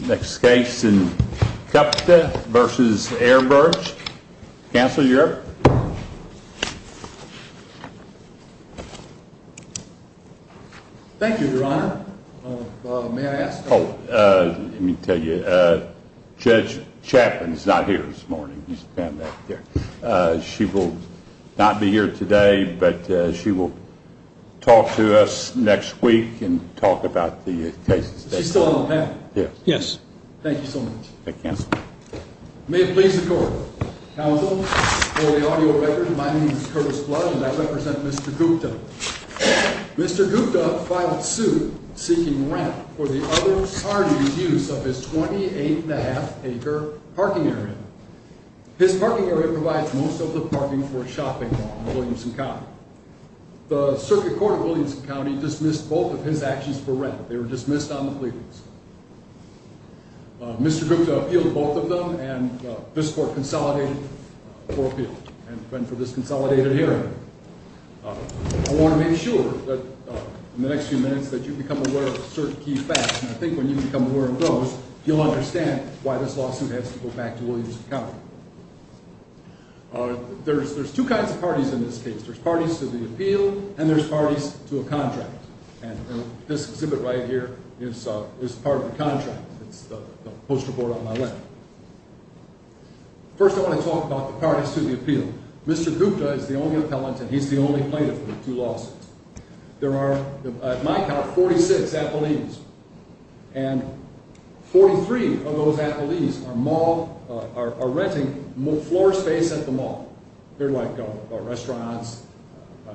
Next case in Gupta v. Airbrush. Counselor, you're up. Thank you, Your Honor. May I ask? Let me tell you, Judge Chapman is not here this morning. She will not be here today, but she will talk to us next week and talk about the cases. She's still on the panel? Yes. Thank you so much. Thank you, Counsel. May it please the Court. Counsel, for the audio record, my name is Curtis Blood and I represent Mr. Gupta. Mr. Gupta filed suit seeking rent for the other party's use of his 28.5 acre parking area. His parking area provides most of the parking for a shopping mall in Williamson County. The Circuit Court of Williamson County dismissed both of his actions for rent. They were dismissed on the plea lease. Mr. Gupta appealed to both of them and this Court consolidated the appeal and went for this consolidated hearing. I want to make sure that in the next few minutes that you become aware of certain key facts. And I think when you become aware of those, you'll understand why this lawsuit has to go back to Williamson County. There's two kinds of parties in this case. There's parties to the appeal and there's parties to a contract. And this exhibit right here is part of the contract. It's the poster board on my left. First, I want to talk about the parties to the appeal. Mr. Gupta is the only appellant and he's the only plaintiff in the two lawsuits. There are, at my count, 46 appellees and 43 of those appellees are renting floor space at the mall. They're like restaurants,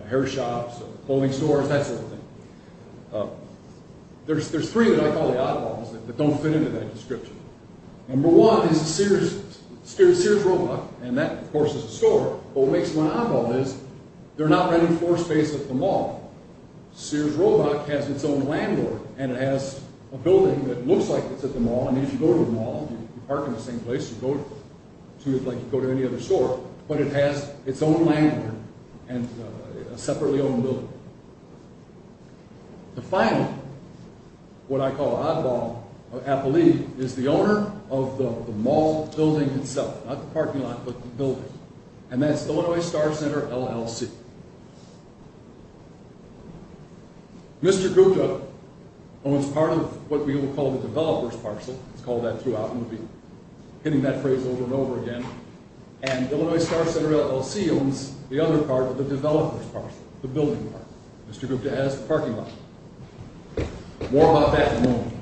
hair shops, clothing stores, that sort of thing. There's three that I call the oddballs that don't fit into that description. Number one is Sears Roebuck and that, of course, is a store. What makes them an oddball is they're not renting floor space at the mall. Sears Roebuck has its own landlord and it has a building that looks like it's at the mall. I mean, if you go to the mall, you park in the same place, like you go to any other store, but it has its own landlord and a separately owned building. The final, what I call oddball, appellee, is the owner of the mall building itself. Not the parking lot, but the building. And that's Illinois Star Center LLC. Mr. Gupta owns part of what we will call the developer's parcel. He's called that throughout and we'll be hitting that phrase over and over again. And Illinois Star Center LLC owns the other part of the developer's parcel, the building part. Mr. Gupta has the parking lot. More about that in a moment.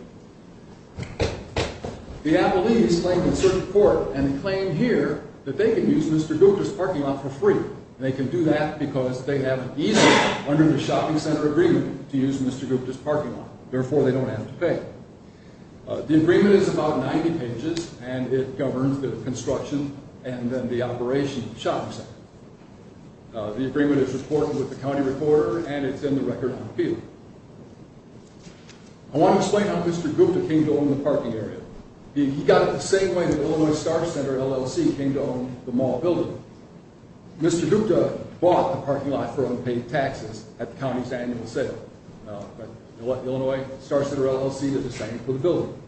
The appellees claim in certain court and claim here that they can use Mr. Gupta's parking lot for free. They can do that because they have an easement under the shopping center agreement to use Mr. Gupta's parking lot. Therefore, they don't have to pay. The agreement is about 90 pages and it governs the construction and then the operation of the shopping center. The agreement is reported with the county recorder and it's in the record of appeal. I want to explain how Mr. Gupta came to own the parking area. He got it the same way that Illinois Star Center LLC came to own the mall building. Mr. Gupta bought the parking lot for unpaid taxes at the county's annual sale. But Illinois Star Center LLC did the same for the building.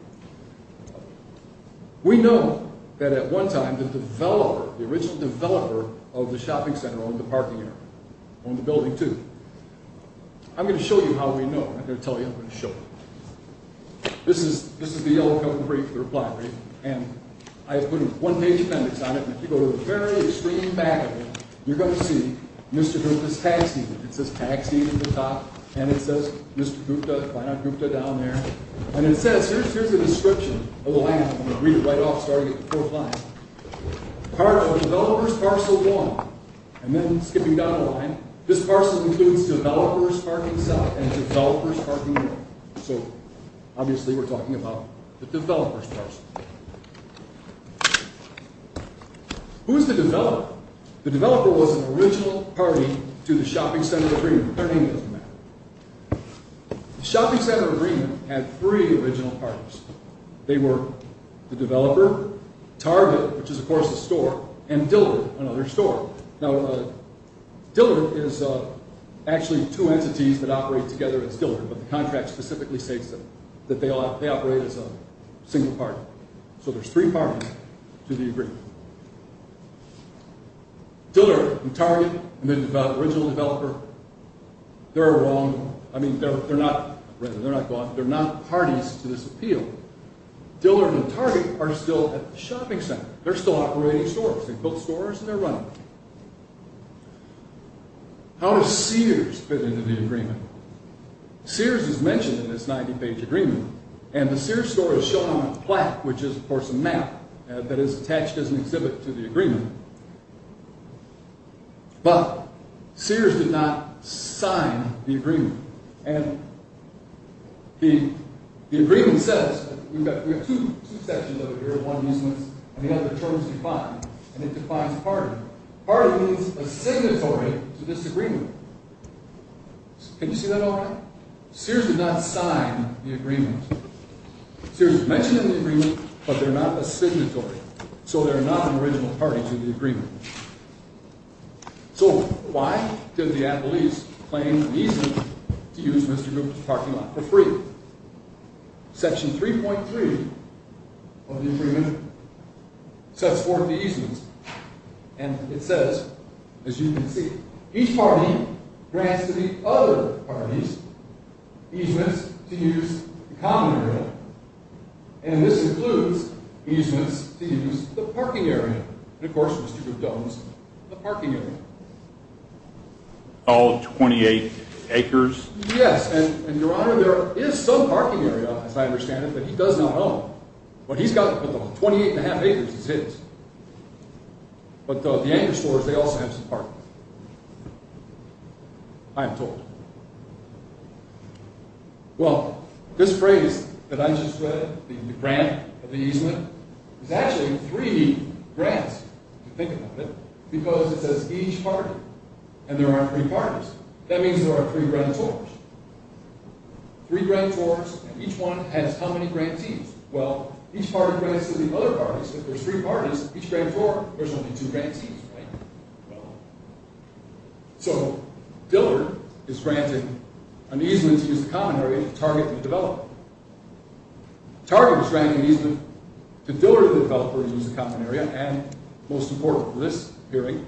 We know that at one time the developer, the original developer of the shopping center owned the parking area. Owned the building too. I'm going to show you how we know. I'm going to tell you, I'm going to show you. This is the yellow cover brief, the reply brief. And I have put a one-page appendix on it. And if you go to the very extreme back of it, you're going to see Mr. Gupta's taxi. It says taxi at the top and it says Mr. Gupta, why not Gupta down there. And it says, here's the description of the land. I'm going to read it right off so I don't get the full line. Part of the developer's parcel 1. And then skipping down the line, this parcel includes developer's parking south and developer's parking north. So obviously we're talking about the developer's parcel. Who's the developer? The developer was an original party to the shopping center agreement. Their name doesn't matter. The shopping center agreement had three original parties. They were the developer, Target, which is, of course, a store, and Dillard, another store. Now, Dillard is actually two entities that operate together as Dillard. But the contract specifically states that they operate as a single party. So there's three parties to the agreement. Dillard and Target and the original developer, they're a wrong, I mean, they're not parties to this appeal. Dillard and Target are still at the shopping center. They're still operating stores. They built stores and they're running them. How does Sears fit into the agreement? Sears is mentioned in this 90-page agreement. And the Sears store is shown on a plaque, which is, of course, a map that is attached as an exhibit to the agreement. But Sears did not sign the agreement. And the agreement says, we have two sections of it here, one useless and the other terms defined. And it defines party. Party means a signatory to this agreement. Can you see that all right? Sears did not sign the agreement. Sears is mentioned in the agreement, but they're not a signatory. So they're not an original party to the agreement. So why did the Apple East claim an easement to use Mr. Goop's parking lot for free? Section 3.3 of the agreement sets forth the easements. And it says, as you can see, each party grants to the other parties easements to use the common area. And this includes easements to use the parking area. And, of course, Mr. Goop owns the parking area. All 28 acres? Yes. And, Your Honor, there is some parking area, as I understand it, that he does not own. But he's got 28 1⁄2 acres. It's his. But the anchor stores, they also have some parking. I am told. Well, this phrase that I just read, the grant of the easement, is actually three grants, if you think about it. Because it says each party. And there are three parties. That means there are three grantors. Three grantors, and each one has how many grantees? Well, each party grants to the other parties. If there's three parties, each grantor, there's only two grantees, right? So, Dillard is granting an easement to use the common area to target the developer. Target is granting an easement to Dillard, the developer, to use the common area. And, most important for this hearing,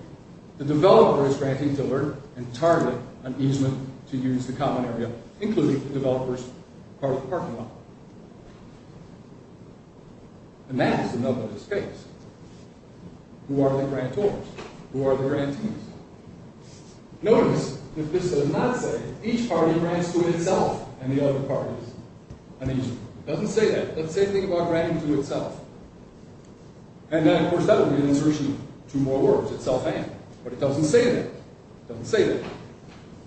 the developer is granting Dillard and Target an easement to use the common area, including the developer's part of the parking lot. And that is enough of this case. Who are the grantors? Who are the grantees? Notice, if this did not say, each party grants to itself and the other parties an easement. It doesn't say that. That's the same thing about granting to itself. And then, of course, that would be an insertion of two more words, itself and. But it doesn't say that. It doesn't say that.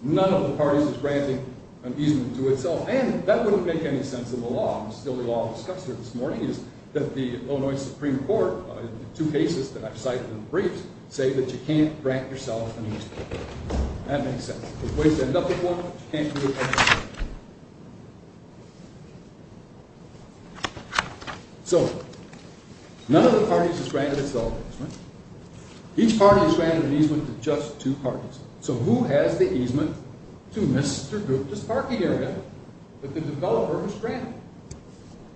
None of the parties is granting an easement to itself. And that wouldn't make any sense in the law. The only law discussed here this morning is that the Illinois Supreme Court, in the two cases that I've cited in the briefs, say that you can't grant yourself an easement. That makes sense. There's ways to end up with one, but you can't do it every time. So, none of the parties is granted itself an easement. Each party is granted an easement to just two parties. So, who has the easement to Mr. Gupta's parking area that the developer was granted?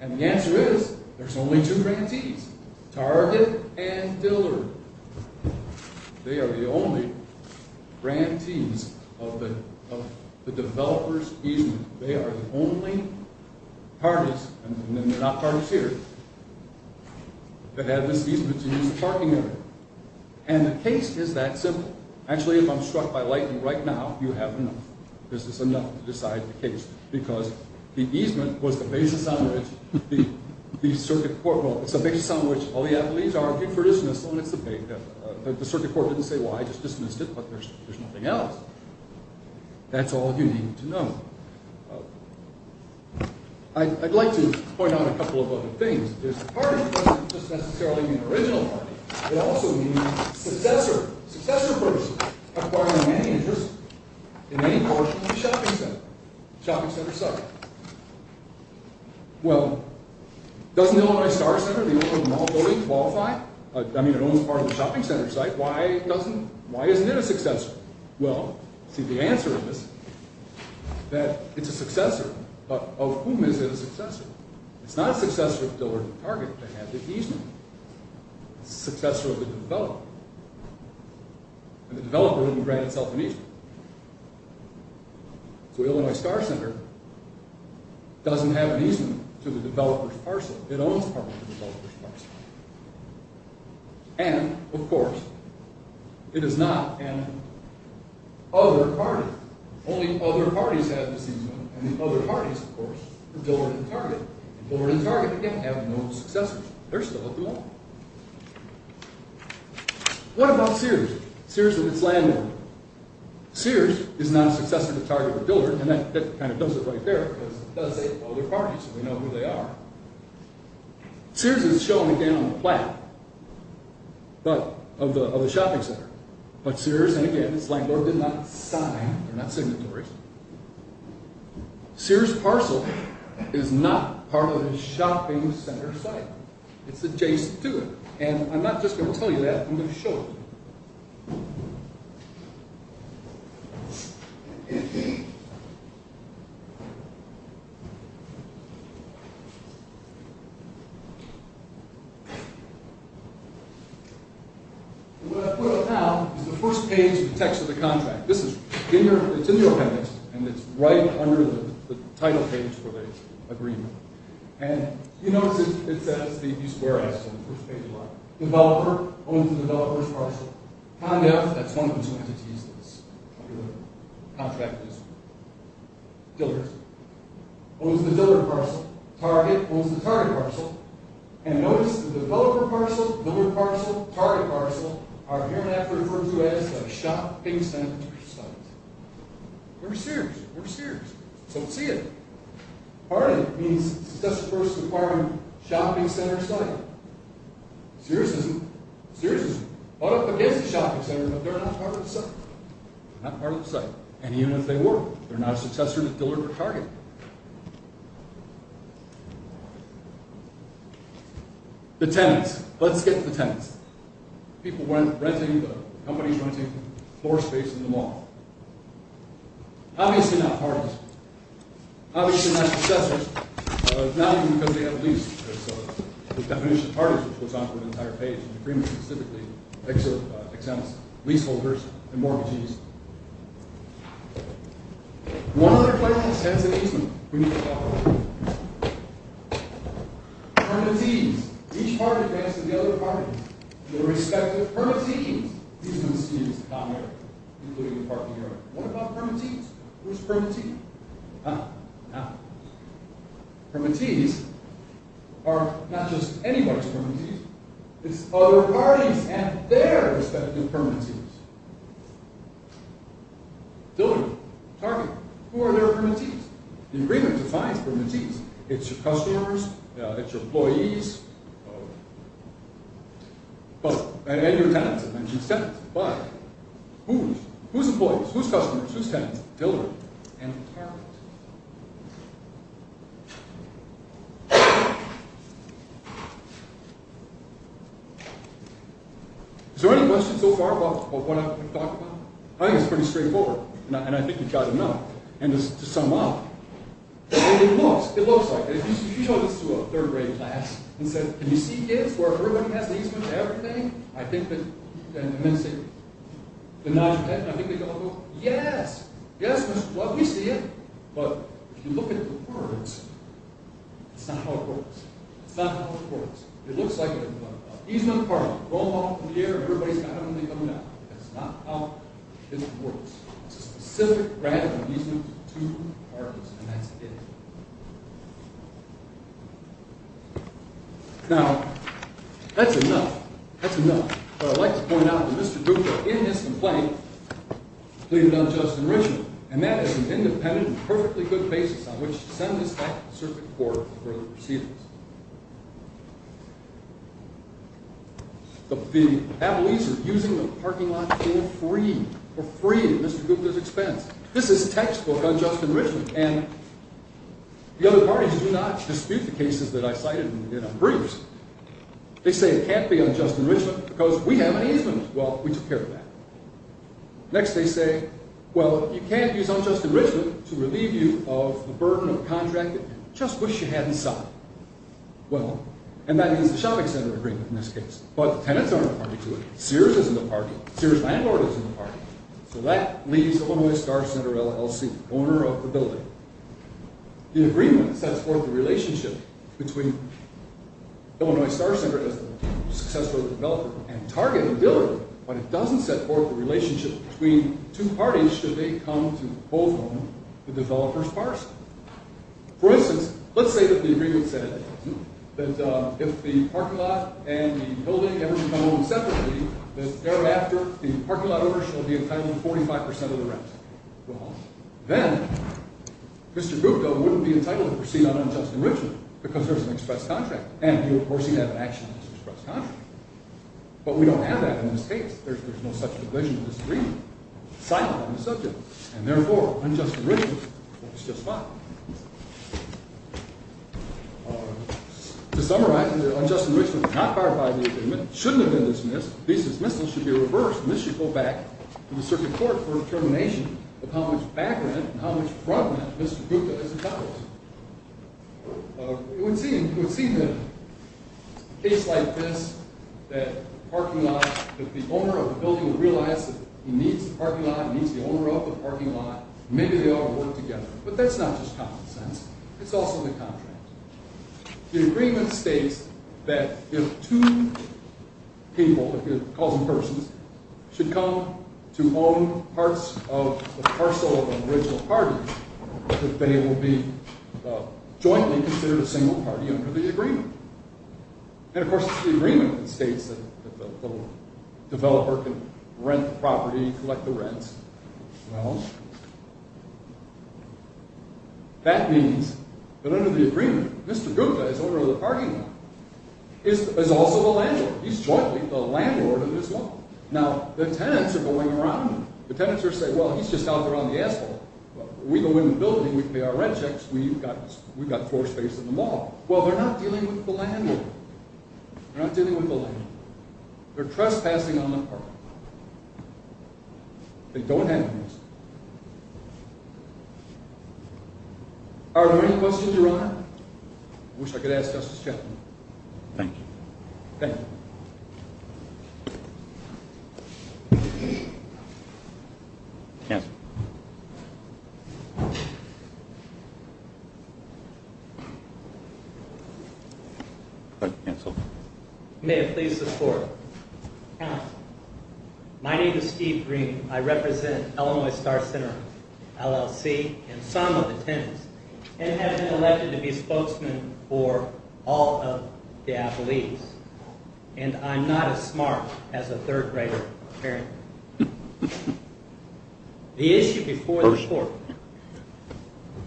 And the answer is, there's only two grantees, Target and Dillard. They are the only grantees of the developer's easement. They are the only parties, and they're not parties here, that have this easement to use the parking area. And the case is that simple. Actually, if I'm struck by lightning right now, you have enough. This is enough to decide the case, because the easement was the basis on which the Circuit Court, well, it's the basis on which all the athletes argued for dismissal, and it's the basis. The Circuit Court didn't say, well, I just dismissed it, but there's nothing else. That's all you need to know. I'd like to point out a couple of other things. This party doesn't just necessarily mean the original party. It also means successor, successor person acquiring any interest in any portion of the shopping center, shopping center site. Well, doesn't Illinois Star Center, the owner of the mall building, qualify? I mean, it owns part of the shopping center site. Why doesn't, why isn't it a successor? Well, see, the answer is that it's a successor, but of whom is it a successor? It's not a successor of Dillard and Target that had the easement. It's a successor of the developer. And the developer didn't grant itself an easement. So Illinois Star Center doesn't have an easement to the developer's parcel. It owns part of the developer's parcel. And, of course, it is not an other party. Only other parties have this easement, and the other parties, of course, are Dillard and Target. Dillard and Target, again, have no successors. They're still at the mall. What about Sears, Sears and its landlord? Sears is not a successor to Target or Dillard, and that kind of does it right there, because it does say other parties, and we know who they are. Sears is shown, again, on the plaque of the shopping center. But Sears, and again, its landlord did not sign, they're not signatories. Sears' parcel is not part of the shopping center site. It's adjacent to it. And I'm not just going to tell you that, I'm going to show you. What I put up now is the first page of the text of the contract. This is, it's in your appendix, and it's right under the title page for the agreement. And you notice it says, it's where I stand, the first page of the line. Developer owns the developer's parcel. Condat, that's one of those entities that's under the contract easement. Dillard owns the Dillard parcel. Target owns the Target parcel. And notice the developer parcel, Dillard parcel, Target parcel, are hereafter referred to as a shopping center site. We're Sears, we're Sears. So we see it. Part of it means, successor first to the shopping center site. Sears isn't. Sears is bought up against the shopping center, but they're not part of the site. They're not part of the site. And even if they were, they're not a successor to Dillard or Target. The tenants, let's get to the tenants. People renting, companies renting floor space in the mall. Obviously not parties. Obviously not successors. Not even because they have a lease. That's the definition of parties, which goes on for an entire page. The agreement specifically exempts leaseholders and mortgages. One other place has easement. We need to talk about that. Permanentees. Each party grants to the other party. The respective permanentees. These have been seen as the common area, including the parking area. What about permanentees? Who's a permanentee? Permanentees are not just anybody's permanentees. It's other parties and their respective permanentees. Dillard, Target, who are their permanentees? The agreement defines permanentees. It's your customers. It's your employees. And your tenants. Who's employees? Who's customers? Who's tenants? Dillard and Target. Is there any questions so far about what I've talked about? I think it's pretty straightforward, and I think you've got enough. And to sum up, what it looks like. If you showed this to a third-grade class and said, can you see this, where everybody has the easement and everything? I think that they'd say, yes. Yes, Mr. Club, we see it. But if you look at the words, it's not how it works. It's not how it works. It looks like it. Easement of the parking. Roll them off in the air, and everybody's got them, and they come down. That's not how it works. It's a specific grant of easement to two apartments, and that's it. Now, that's enough. That's enough. But I'd like to point out that Mr. Cooper, in his complaint, pleaded unjust enrichment. And that is an independent and perfectly good basis on which to send this back to the circuit court for further proceedings. The appellees are using the parking lot for free, for free at Mr. Cooper's expense. This is textbook unjust enrichment. And the other parties do not dispute the cases that I cited in our briefs. They say it can't be unjust enrichment because we have an easement. Well, we took care of that. Next, they say, well, you can't use unjust enrichment to relieve you of the burden of contracting. Just wish you hadn't signed. Well, and that means the shopping center agreement, in this case. But tenants aren't a party to it. Sears isn't a party. Sears' landlord isn't a party. So that leaves Illinois Star Center LLC, owner of the building. The agreement sets forth the relationship between Illinois Star Center, as the successful developer, and Target, the dealer, but it doesn't set forth the relationship between two parties, should they come to both own the developer's parcel. For instance, let's say that the agreement said that if the parking lot and the building ever become owned separately, that thereafter the parking lot owner shall be entitled to 45% of the rent. Well, then Mr. Gupta wouldn't be entitled to proceed on unjust enrichment because there's an express contract. And, of course, he'd have an action against the express contract. But we don't have that in this case. There's no such provision in this agreement. And, therefore, unjust enrichment works just fine. To summarize, unjust enrichment is not clarified in the agreement, shouldn't have been dismissed, dismissal should be reversed, and this should go back to the circuit court for determination of how much back rent and how much front rent Mr. Gupta is entitled to. It would seem that in a case like this, that the owner of the building would realize that he needs the parking lot, needs the owner of the parking lot, maybe they ought to work together. But that's not just common sense. It's also the contract. The agreement states that if two people, if you're calling them persons, should come to own parts of the parcel of an original party, that they will be jointly considered a single party under the agreement. And, of course, the agreement states that the developer can rent the property, collect the rents. Well, that means that under the agreement, Mr. Gupta, as owner of the parking lot, is also the landlord. He's jointly the landlord of this mall. Now, the tenants are going around him. The tenants are saying, well, he's just out there on the asphalt. We go in the building, we pay our rent checks, we've got floor space in the mall. Well, they're not dealing with the landlord. They're not dealing with the landlord. They're trespassing on the parking lot. They don't have anything else. Are there any questions, Your Honor? I wish I could ask Justice Chaffin. Thank you. Thank you. Cancel. Cancel. May I please have the floor? Counsel. My name is Steve Green. I represent Illinois Star Center, LLC, and some of the tenants, and have been elected to be spokesmen for all of the affiliates. And I'm not as smart as a third grader, apparently. The issue before the court,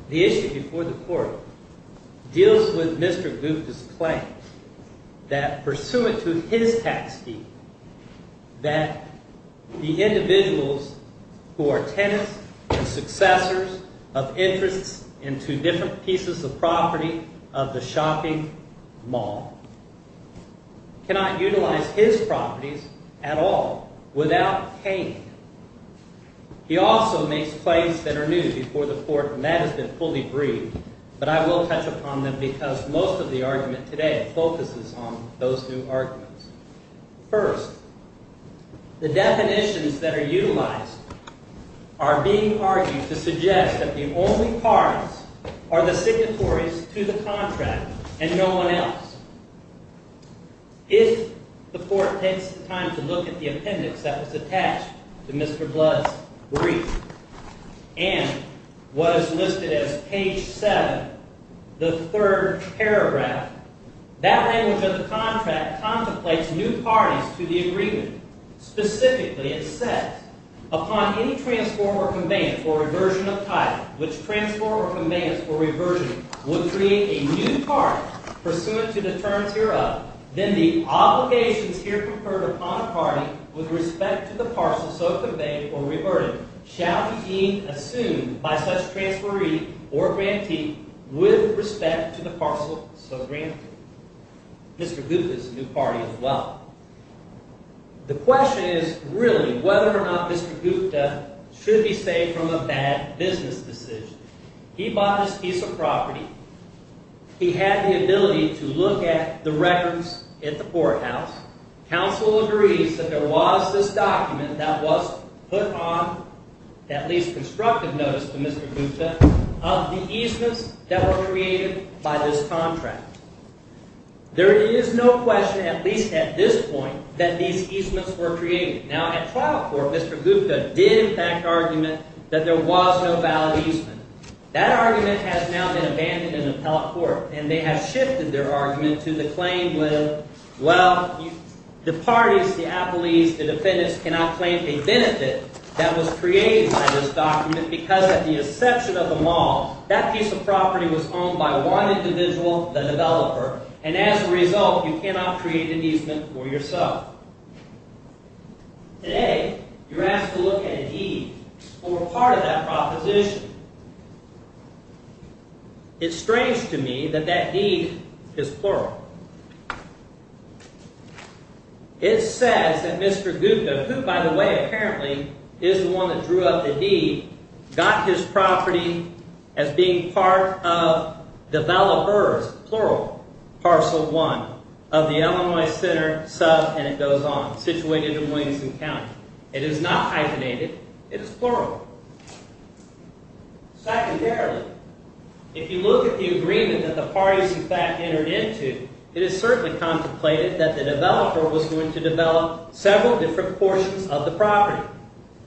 the issue before the court, deals with Mr. Gupta's claim that pursuant to his tax deed, that the individuals who are tenants and successors of interests into different pieces of property of the shopping mall cannot utilize his properties at all, without paying. He also makes claims that are new before the court, and that has been fully briefed, but I will touch upon them because most of the argument today focuses on those new arguments. First, the definitions that are utilized are being argued to suggest that the only parts are the signatories to the contract and no one else. If the court takes the time to look at the appendix that was attached to Mr. Blood's brief and was listed as page 7, the third paragraph, that language of the contract contemplates new parties to the agreement. Specifically, it says, Upon any transfer or conveyance or reversion of title, which transfer or conveyance or reversion would create a new party, pursuant to the terms hereof, then the obligations here conferred upon a party with respect to the parcel so conveyed or reverted shall be assumed by such transferee or grantee with respect to the parcel so granted. Mr. Gupta is a new party as well. The question is really whether or not Mr. Gupta should be saved from a bad business decision. He bought this piece of property. He had the ability to look at the records at the courthouse. Counsel agrees that there was this document that was put on at least constructive notice to Mr. Gupta of the easements that were created by this contract. There is no question, at least at this point, that these easements were created. Now, at trial court, Mr. Gupta did in fact argument that there was no valid easement. That argument has now been abandoned in appellate court, and they have shifted their argument to the claim with, Well, the parties, the appellees, the defendants, cannot claim a benefit that was created by this document because at the exception of the mall, that piece of property was owned by one individual, the developer, and as a result, you cannot create an easement for yourself. Today, you're asked to look at a deed or part of that proposition. It's strange to me that that deed is plural. It says that Mr. Gupta, who, by the way, apparently is the one that drew up the deed, got his property as being part of developers, plural, parcel one of the Illinois Center sub, and it goes on, situated in Williamson County. It is not hyphenated. It is plural. Secondarily, if you look at the agreement that the parties in fact entered into, it is certainly contemplated that the developer was going to develop several different portions of the property.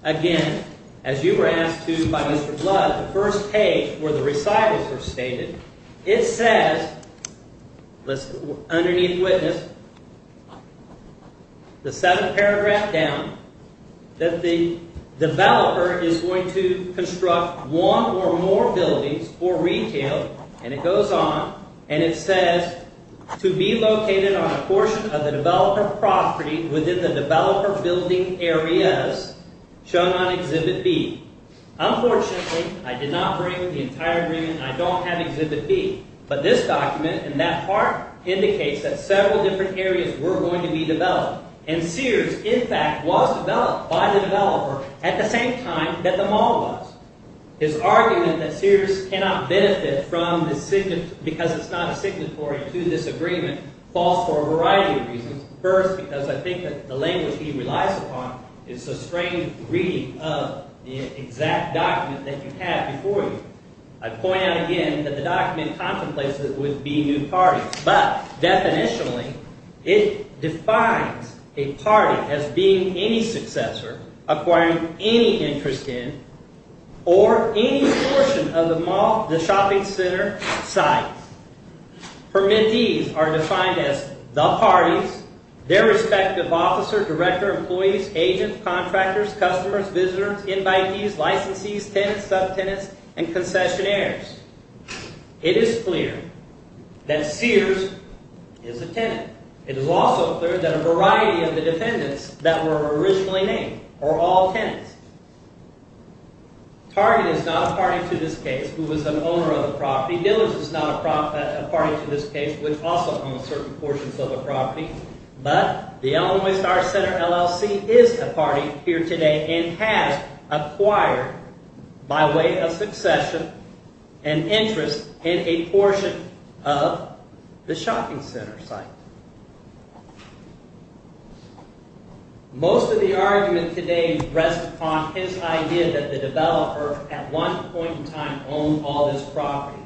Again, as you were asked to by Mr. Blood, the first page where the recitals were stated, it says, underneath witness, the seventh paragraph down, that the developer is going to construct one or more buildings for retail, and it goes on, and it says, to be located on a portion of the developer property within the developer building areas, shown on Exhibit B. Unfortunately, I did not bring the entire agreement, and I don't have Exhibit B, but this document, in that part, indicates that several different areas were going to be developed, and Sears, in fact, was developed by the developer at the same time that the mall was. His argument that Sears cannot benefit because it's not a signatory to this agreement falls for a variety of reasons. First, because I think that the language he relies upon is a strange reading of the exact document that you have before you. I'd point out again that the document contemplates that it would be new parties, but definitionally, it defines a party as being any successor acquiring any interest in or any portion of the mall, the shopping center site. Permittees are defined as the parties, their respective officer, director, employees, agents, contractors, customers, visitors, invitees, licensees, tenants, subtenants, and concessionaires. It is clear that Sears is a tenant. It is also clear that a variety of the defendants that were originally named are all tenants. Target is not a party to this case, who is an owner of the property. Dillard's is not a party to this case, which also owns certain portions of the property. But the Illinois Star Center LLC is a party here today and has acquired, by way of succession, an interest in a portion of the shopping center site. Most of the argument today rests upon his idea that the developer at one point in time owned all this property.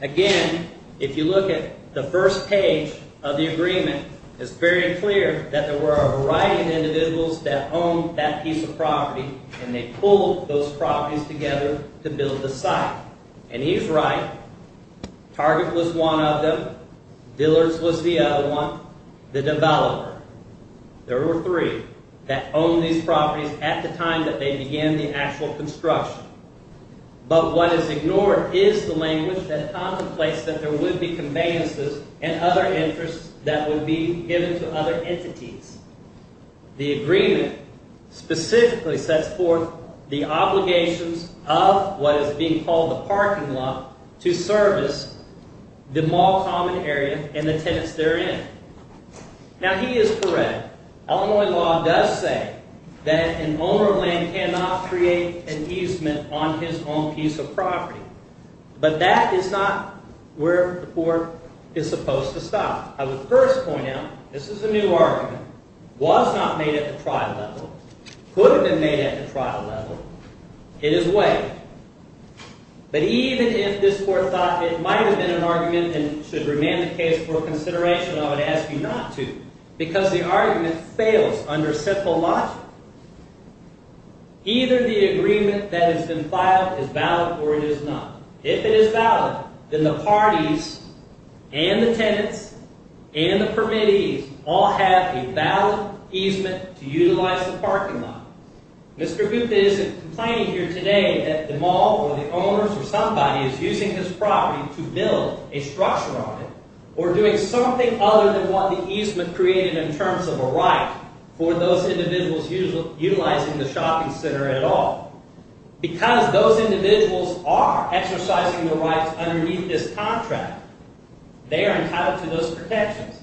Again, if you look at the first page of the agreement, it's very clear that there were a variety of individuals that owned that piece of property and they pulled those properties together to build the site. And he's right. Target was one of them. Dillard's was the other one. The developer, there were three, that owned these properties at the time that they began the actual construction. But what is ignored is the language that contemplates that there would be conveyances and other interests that would be given to other entities. The agreement specifically sets forth the obligations of what is being called the parking lot to service the mall common area and the tenants therein. Now, he is correct. Illinois law does say that an owner of land cannot create an easement on his own piece of property. But that is not where the court is supposed to stop. I would first point out, this is a new argument, was not made at the trial level, could have been made at the trial level, it is weighted. But even if this court thought it might have been an argument and should remain the case for consideration, I would ask you not to, because the argument fails under simple logic. Either the agreement that has been filed is valid or it is not. If it is valid, then the parties and the tenants and the permittees all have a valid easement to utilize the parking lot. Mr. Gupta isn't complaining here today that the mall or the owners or somebody is using his property to build a structure on it or doing something other than what the easement created in terms of a right for those individuals utilizing the shopping center at all. Because those individuals are exercising their rights underneath this contract, they are entitled to those protections.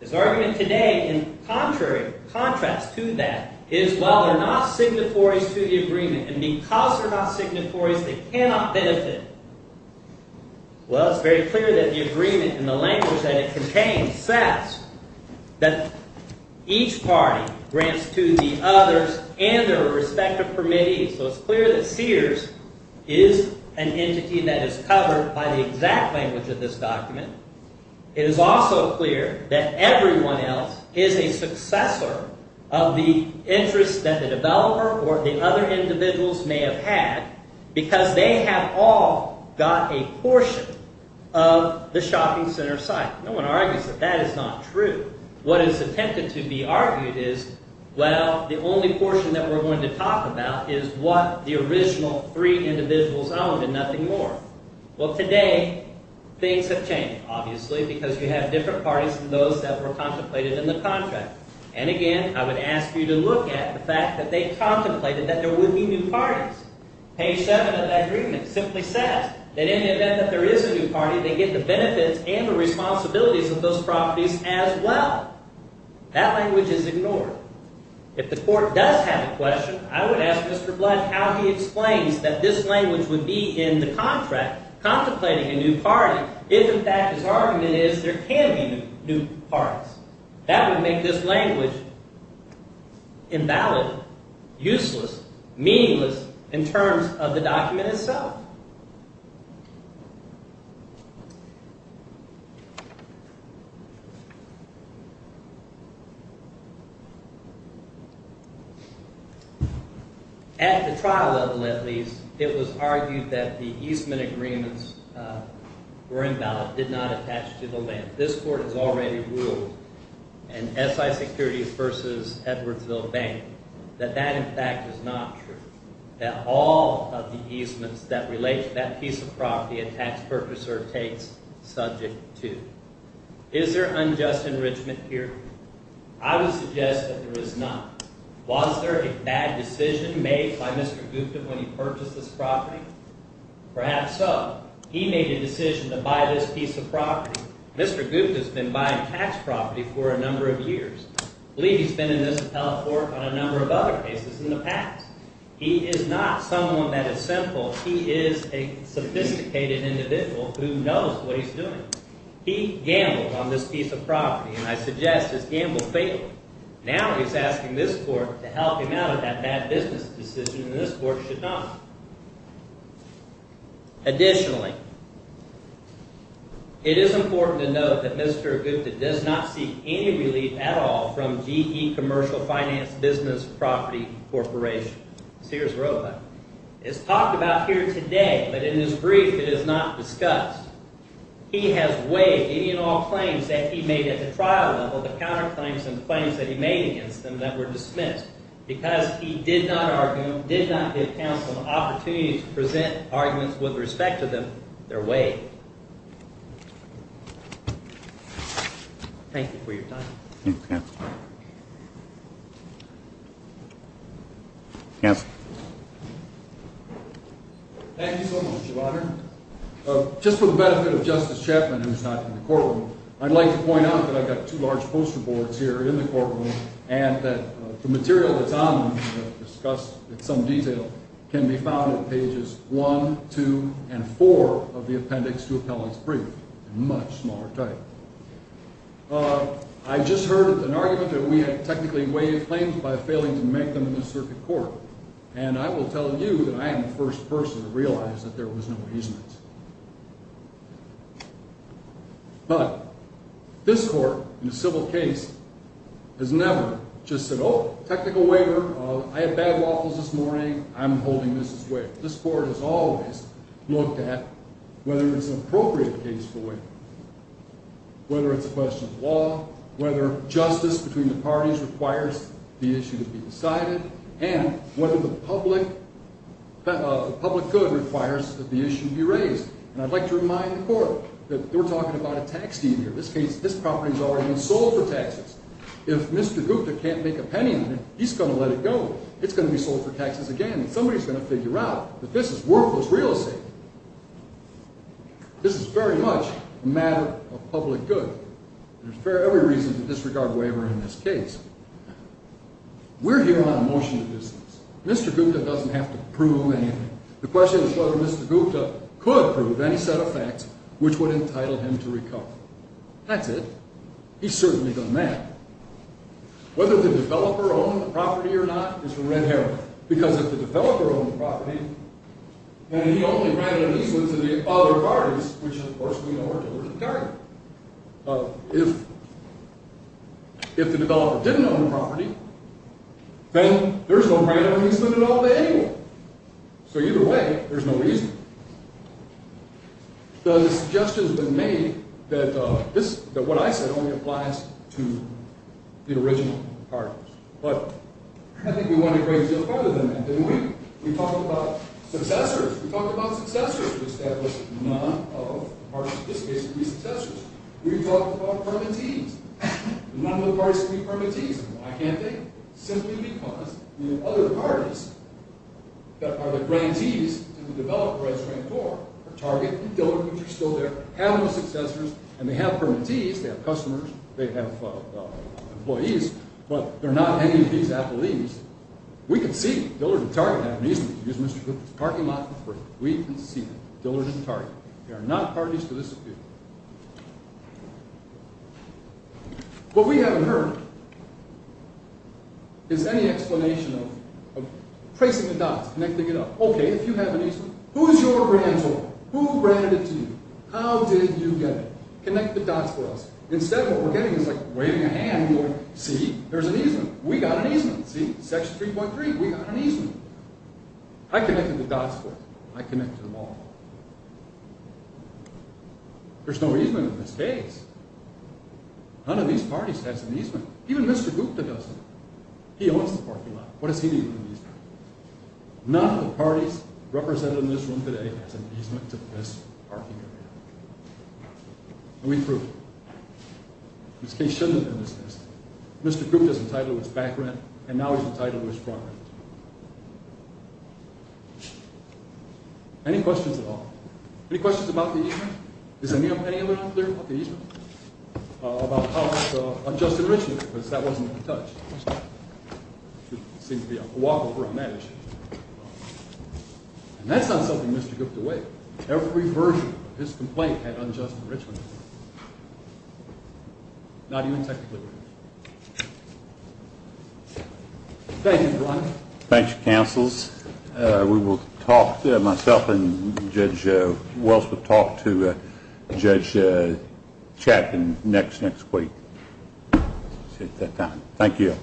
His argument today, in contrast to that, is while they're not signatories to the agreement and because they're not signatories, they cannot benefit. Well, it's very clear that the agreement and the language that it contains says that each party grants to the others and their respective permittees. So it's clear that Sears is an entity that is covered by the exact language of this document. It is also clear that everyone else is a successor of the interest that the developer or the other individuals may have had because they have all got a portion of the shopping center site. No one argues that that is not true. What is attempted to be argued is, well, the only portion that we're going to talk about is what the original three individuals owned and nothing more. Well, today, things have changed, obviously, because you have different parties than those that were contemplated in the contract. And again, I would ask you to look at the fact that they contemplated that there would be new parties. Page 7 of that agreement simply says that in the event that there is a new party, they get the benefits and the responsibilities of those properties as well. That language is ignored. If the court does have a question, I would ask Mr. Blood how he explains that this language would be in the contract, contemplating a new party, if in fact his argument is there can be new parties. That would make this language invalid, useless, meaningless in terms of the document itself. At the trial level, at least, it was argued that the Eastman agreements were invalid, did not attach to the land. This court has already ruled in SI Securities v. Edwardsville Bank that that, in fact, is not true, that all of the easements that relate to that piece of property a tax purchaser takes subject to. Is there unjust enrichment here? I would suggest that there is not. Was there a bad decision made by Mr. Gupta when he purchased this property? Perhaps so. He made a decision to buy this piece of property. Mr. Gupta's been buying tax property for a number of years. I believe he's been in this appellate court on a number of other cases in the past. He is not someone that is simple. He is a sophisticated individual who knows what he's doing. He gambled on this piece of property, and I suggest his gamble failed. Now he's asking this court to help him out of that bad business decision, and this court should not. Additionally, it is important to note that Mr. Gupta does not seek any relief at all from GE Commercial Finance Business Property Corporation. Sears Roadway. It's talked about here today, but in his brief it is not discussed. He has waived any and all claims that he made at the trial level, the counterclaims and the claims that he made against them that were dismissed, because he did not give counsel the opportunity to present arguments with respect to them their way. Thank you for your time. Thank you, counsel. Counsel. Thank you so much, Your Honor. Just for the benefit of Justice Chapman, who is not in the courtroom, I'd like to point out that I've got two large poster boards here in the courtroom, and that the material that's on them, discussed in some detail, can be found at pages 1, 2, and 4 of the appendix to appellate's brief, a much smaller type. I just heard an argument that we had technically waived claims by failing to make them in the circuit court, and I will tell you that I am the first person to realize that there was no easement. But this court, in a civil case, has never just said, oh, technical waiver, I had bad waffles this morning, I'm holding this as waiver. This court has always looked at whether it's an appropriate case for waiver, whether it's a question of law, whether justice between the parties requires the issue to be decided, and whether the public good requires that the issue be raised. And I'd like to remind the court that we're talking about a tax deed here. In this case, this property's already been sold for taxes. If Mr. Gupta can't make a penny on it, he's going to let it go. It's going to be sold for taxes again, and somebody's going to figure out that this is worthless real estate. This is very much a matter of public good. There's every reason to disregard waiver in this case. We're here on a motion to business. Mr. Gupta doesn't have to prove anything. The question is whether Mr. Gupta could prove any set of facts which would entitle him to recover. That's it. He certainly doesn't have to. Whether the developer owned the property or not is a red herring, because if the developer owned the property, then he only granted it to the other parties, which, of course, we know are deliberately targeted. If the developer didn't own the property, then there's no right or reason at all to anyone. So either way, there's no reason. The suggestion has been made that what I said only applies to the original parties. But I think we went a great deal further than that, didn't we? We talked about successors. We talked about successors who established none of the parties, in this case, to be successors. We talked about permittees. None of the parties to be permittees. Why can't they? Simply because the other parties that are the grantees to the developer as a rancor are Target and Dillard, which are still their animal successors, and they have permittees, they have customers, they have employees, but they're not any of these affilies. We can see Dillard and Target have an easy reason to use Mr. Cook's parking lot for free. We can see Dillard and Target. They are not parties to this appeal. What we haven't heard is any explanation of tracing the dots, connecting it up. Okay, if you have an easement, who's your rancor? Who granted it to you? How did you get it? Connect the dots for us. Instead of what we're getting is like waving a hand and going, see, there's an easement. We got an easement. See, section 3.3, we got an easement. I connected the dots for it. I connected them all. There's no easement in this case. None of these parties has an easement. Even Mr. Gupta doesn't. He owns the parking lot. What does he need from the easement? None of the parties represented in this room today has an easement to this parking area. And we proved it. This case shouldn't have been dismissed. Mr. Gupta's entitled to his back rent, and now he's entitled to his front rent. Any questions at all? Any questions about the easement? Is there any opinion that I'm clear about the easement? About how much unjust enrichment, because that wasn't in touch. There should seem to be a walkover on that issue. And that's not something Mr. Gupta would. Every version of his complaint had unjust enrichment. Not even technically. Thank you, Brian. Thank you, counsels. We will talk, myself and Judge Wells will talk to Judge Chapman next week. Thank you.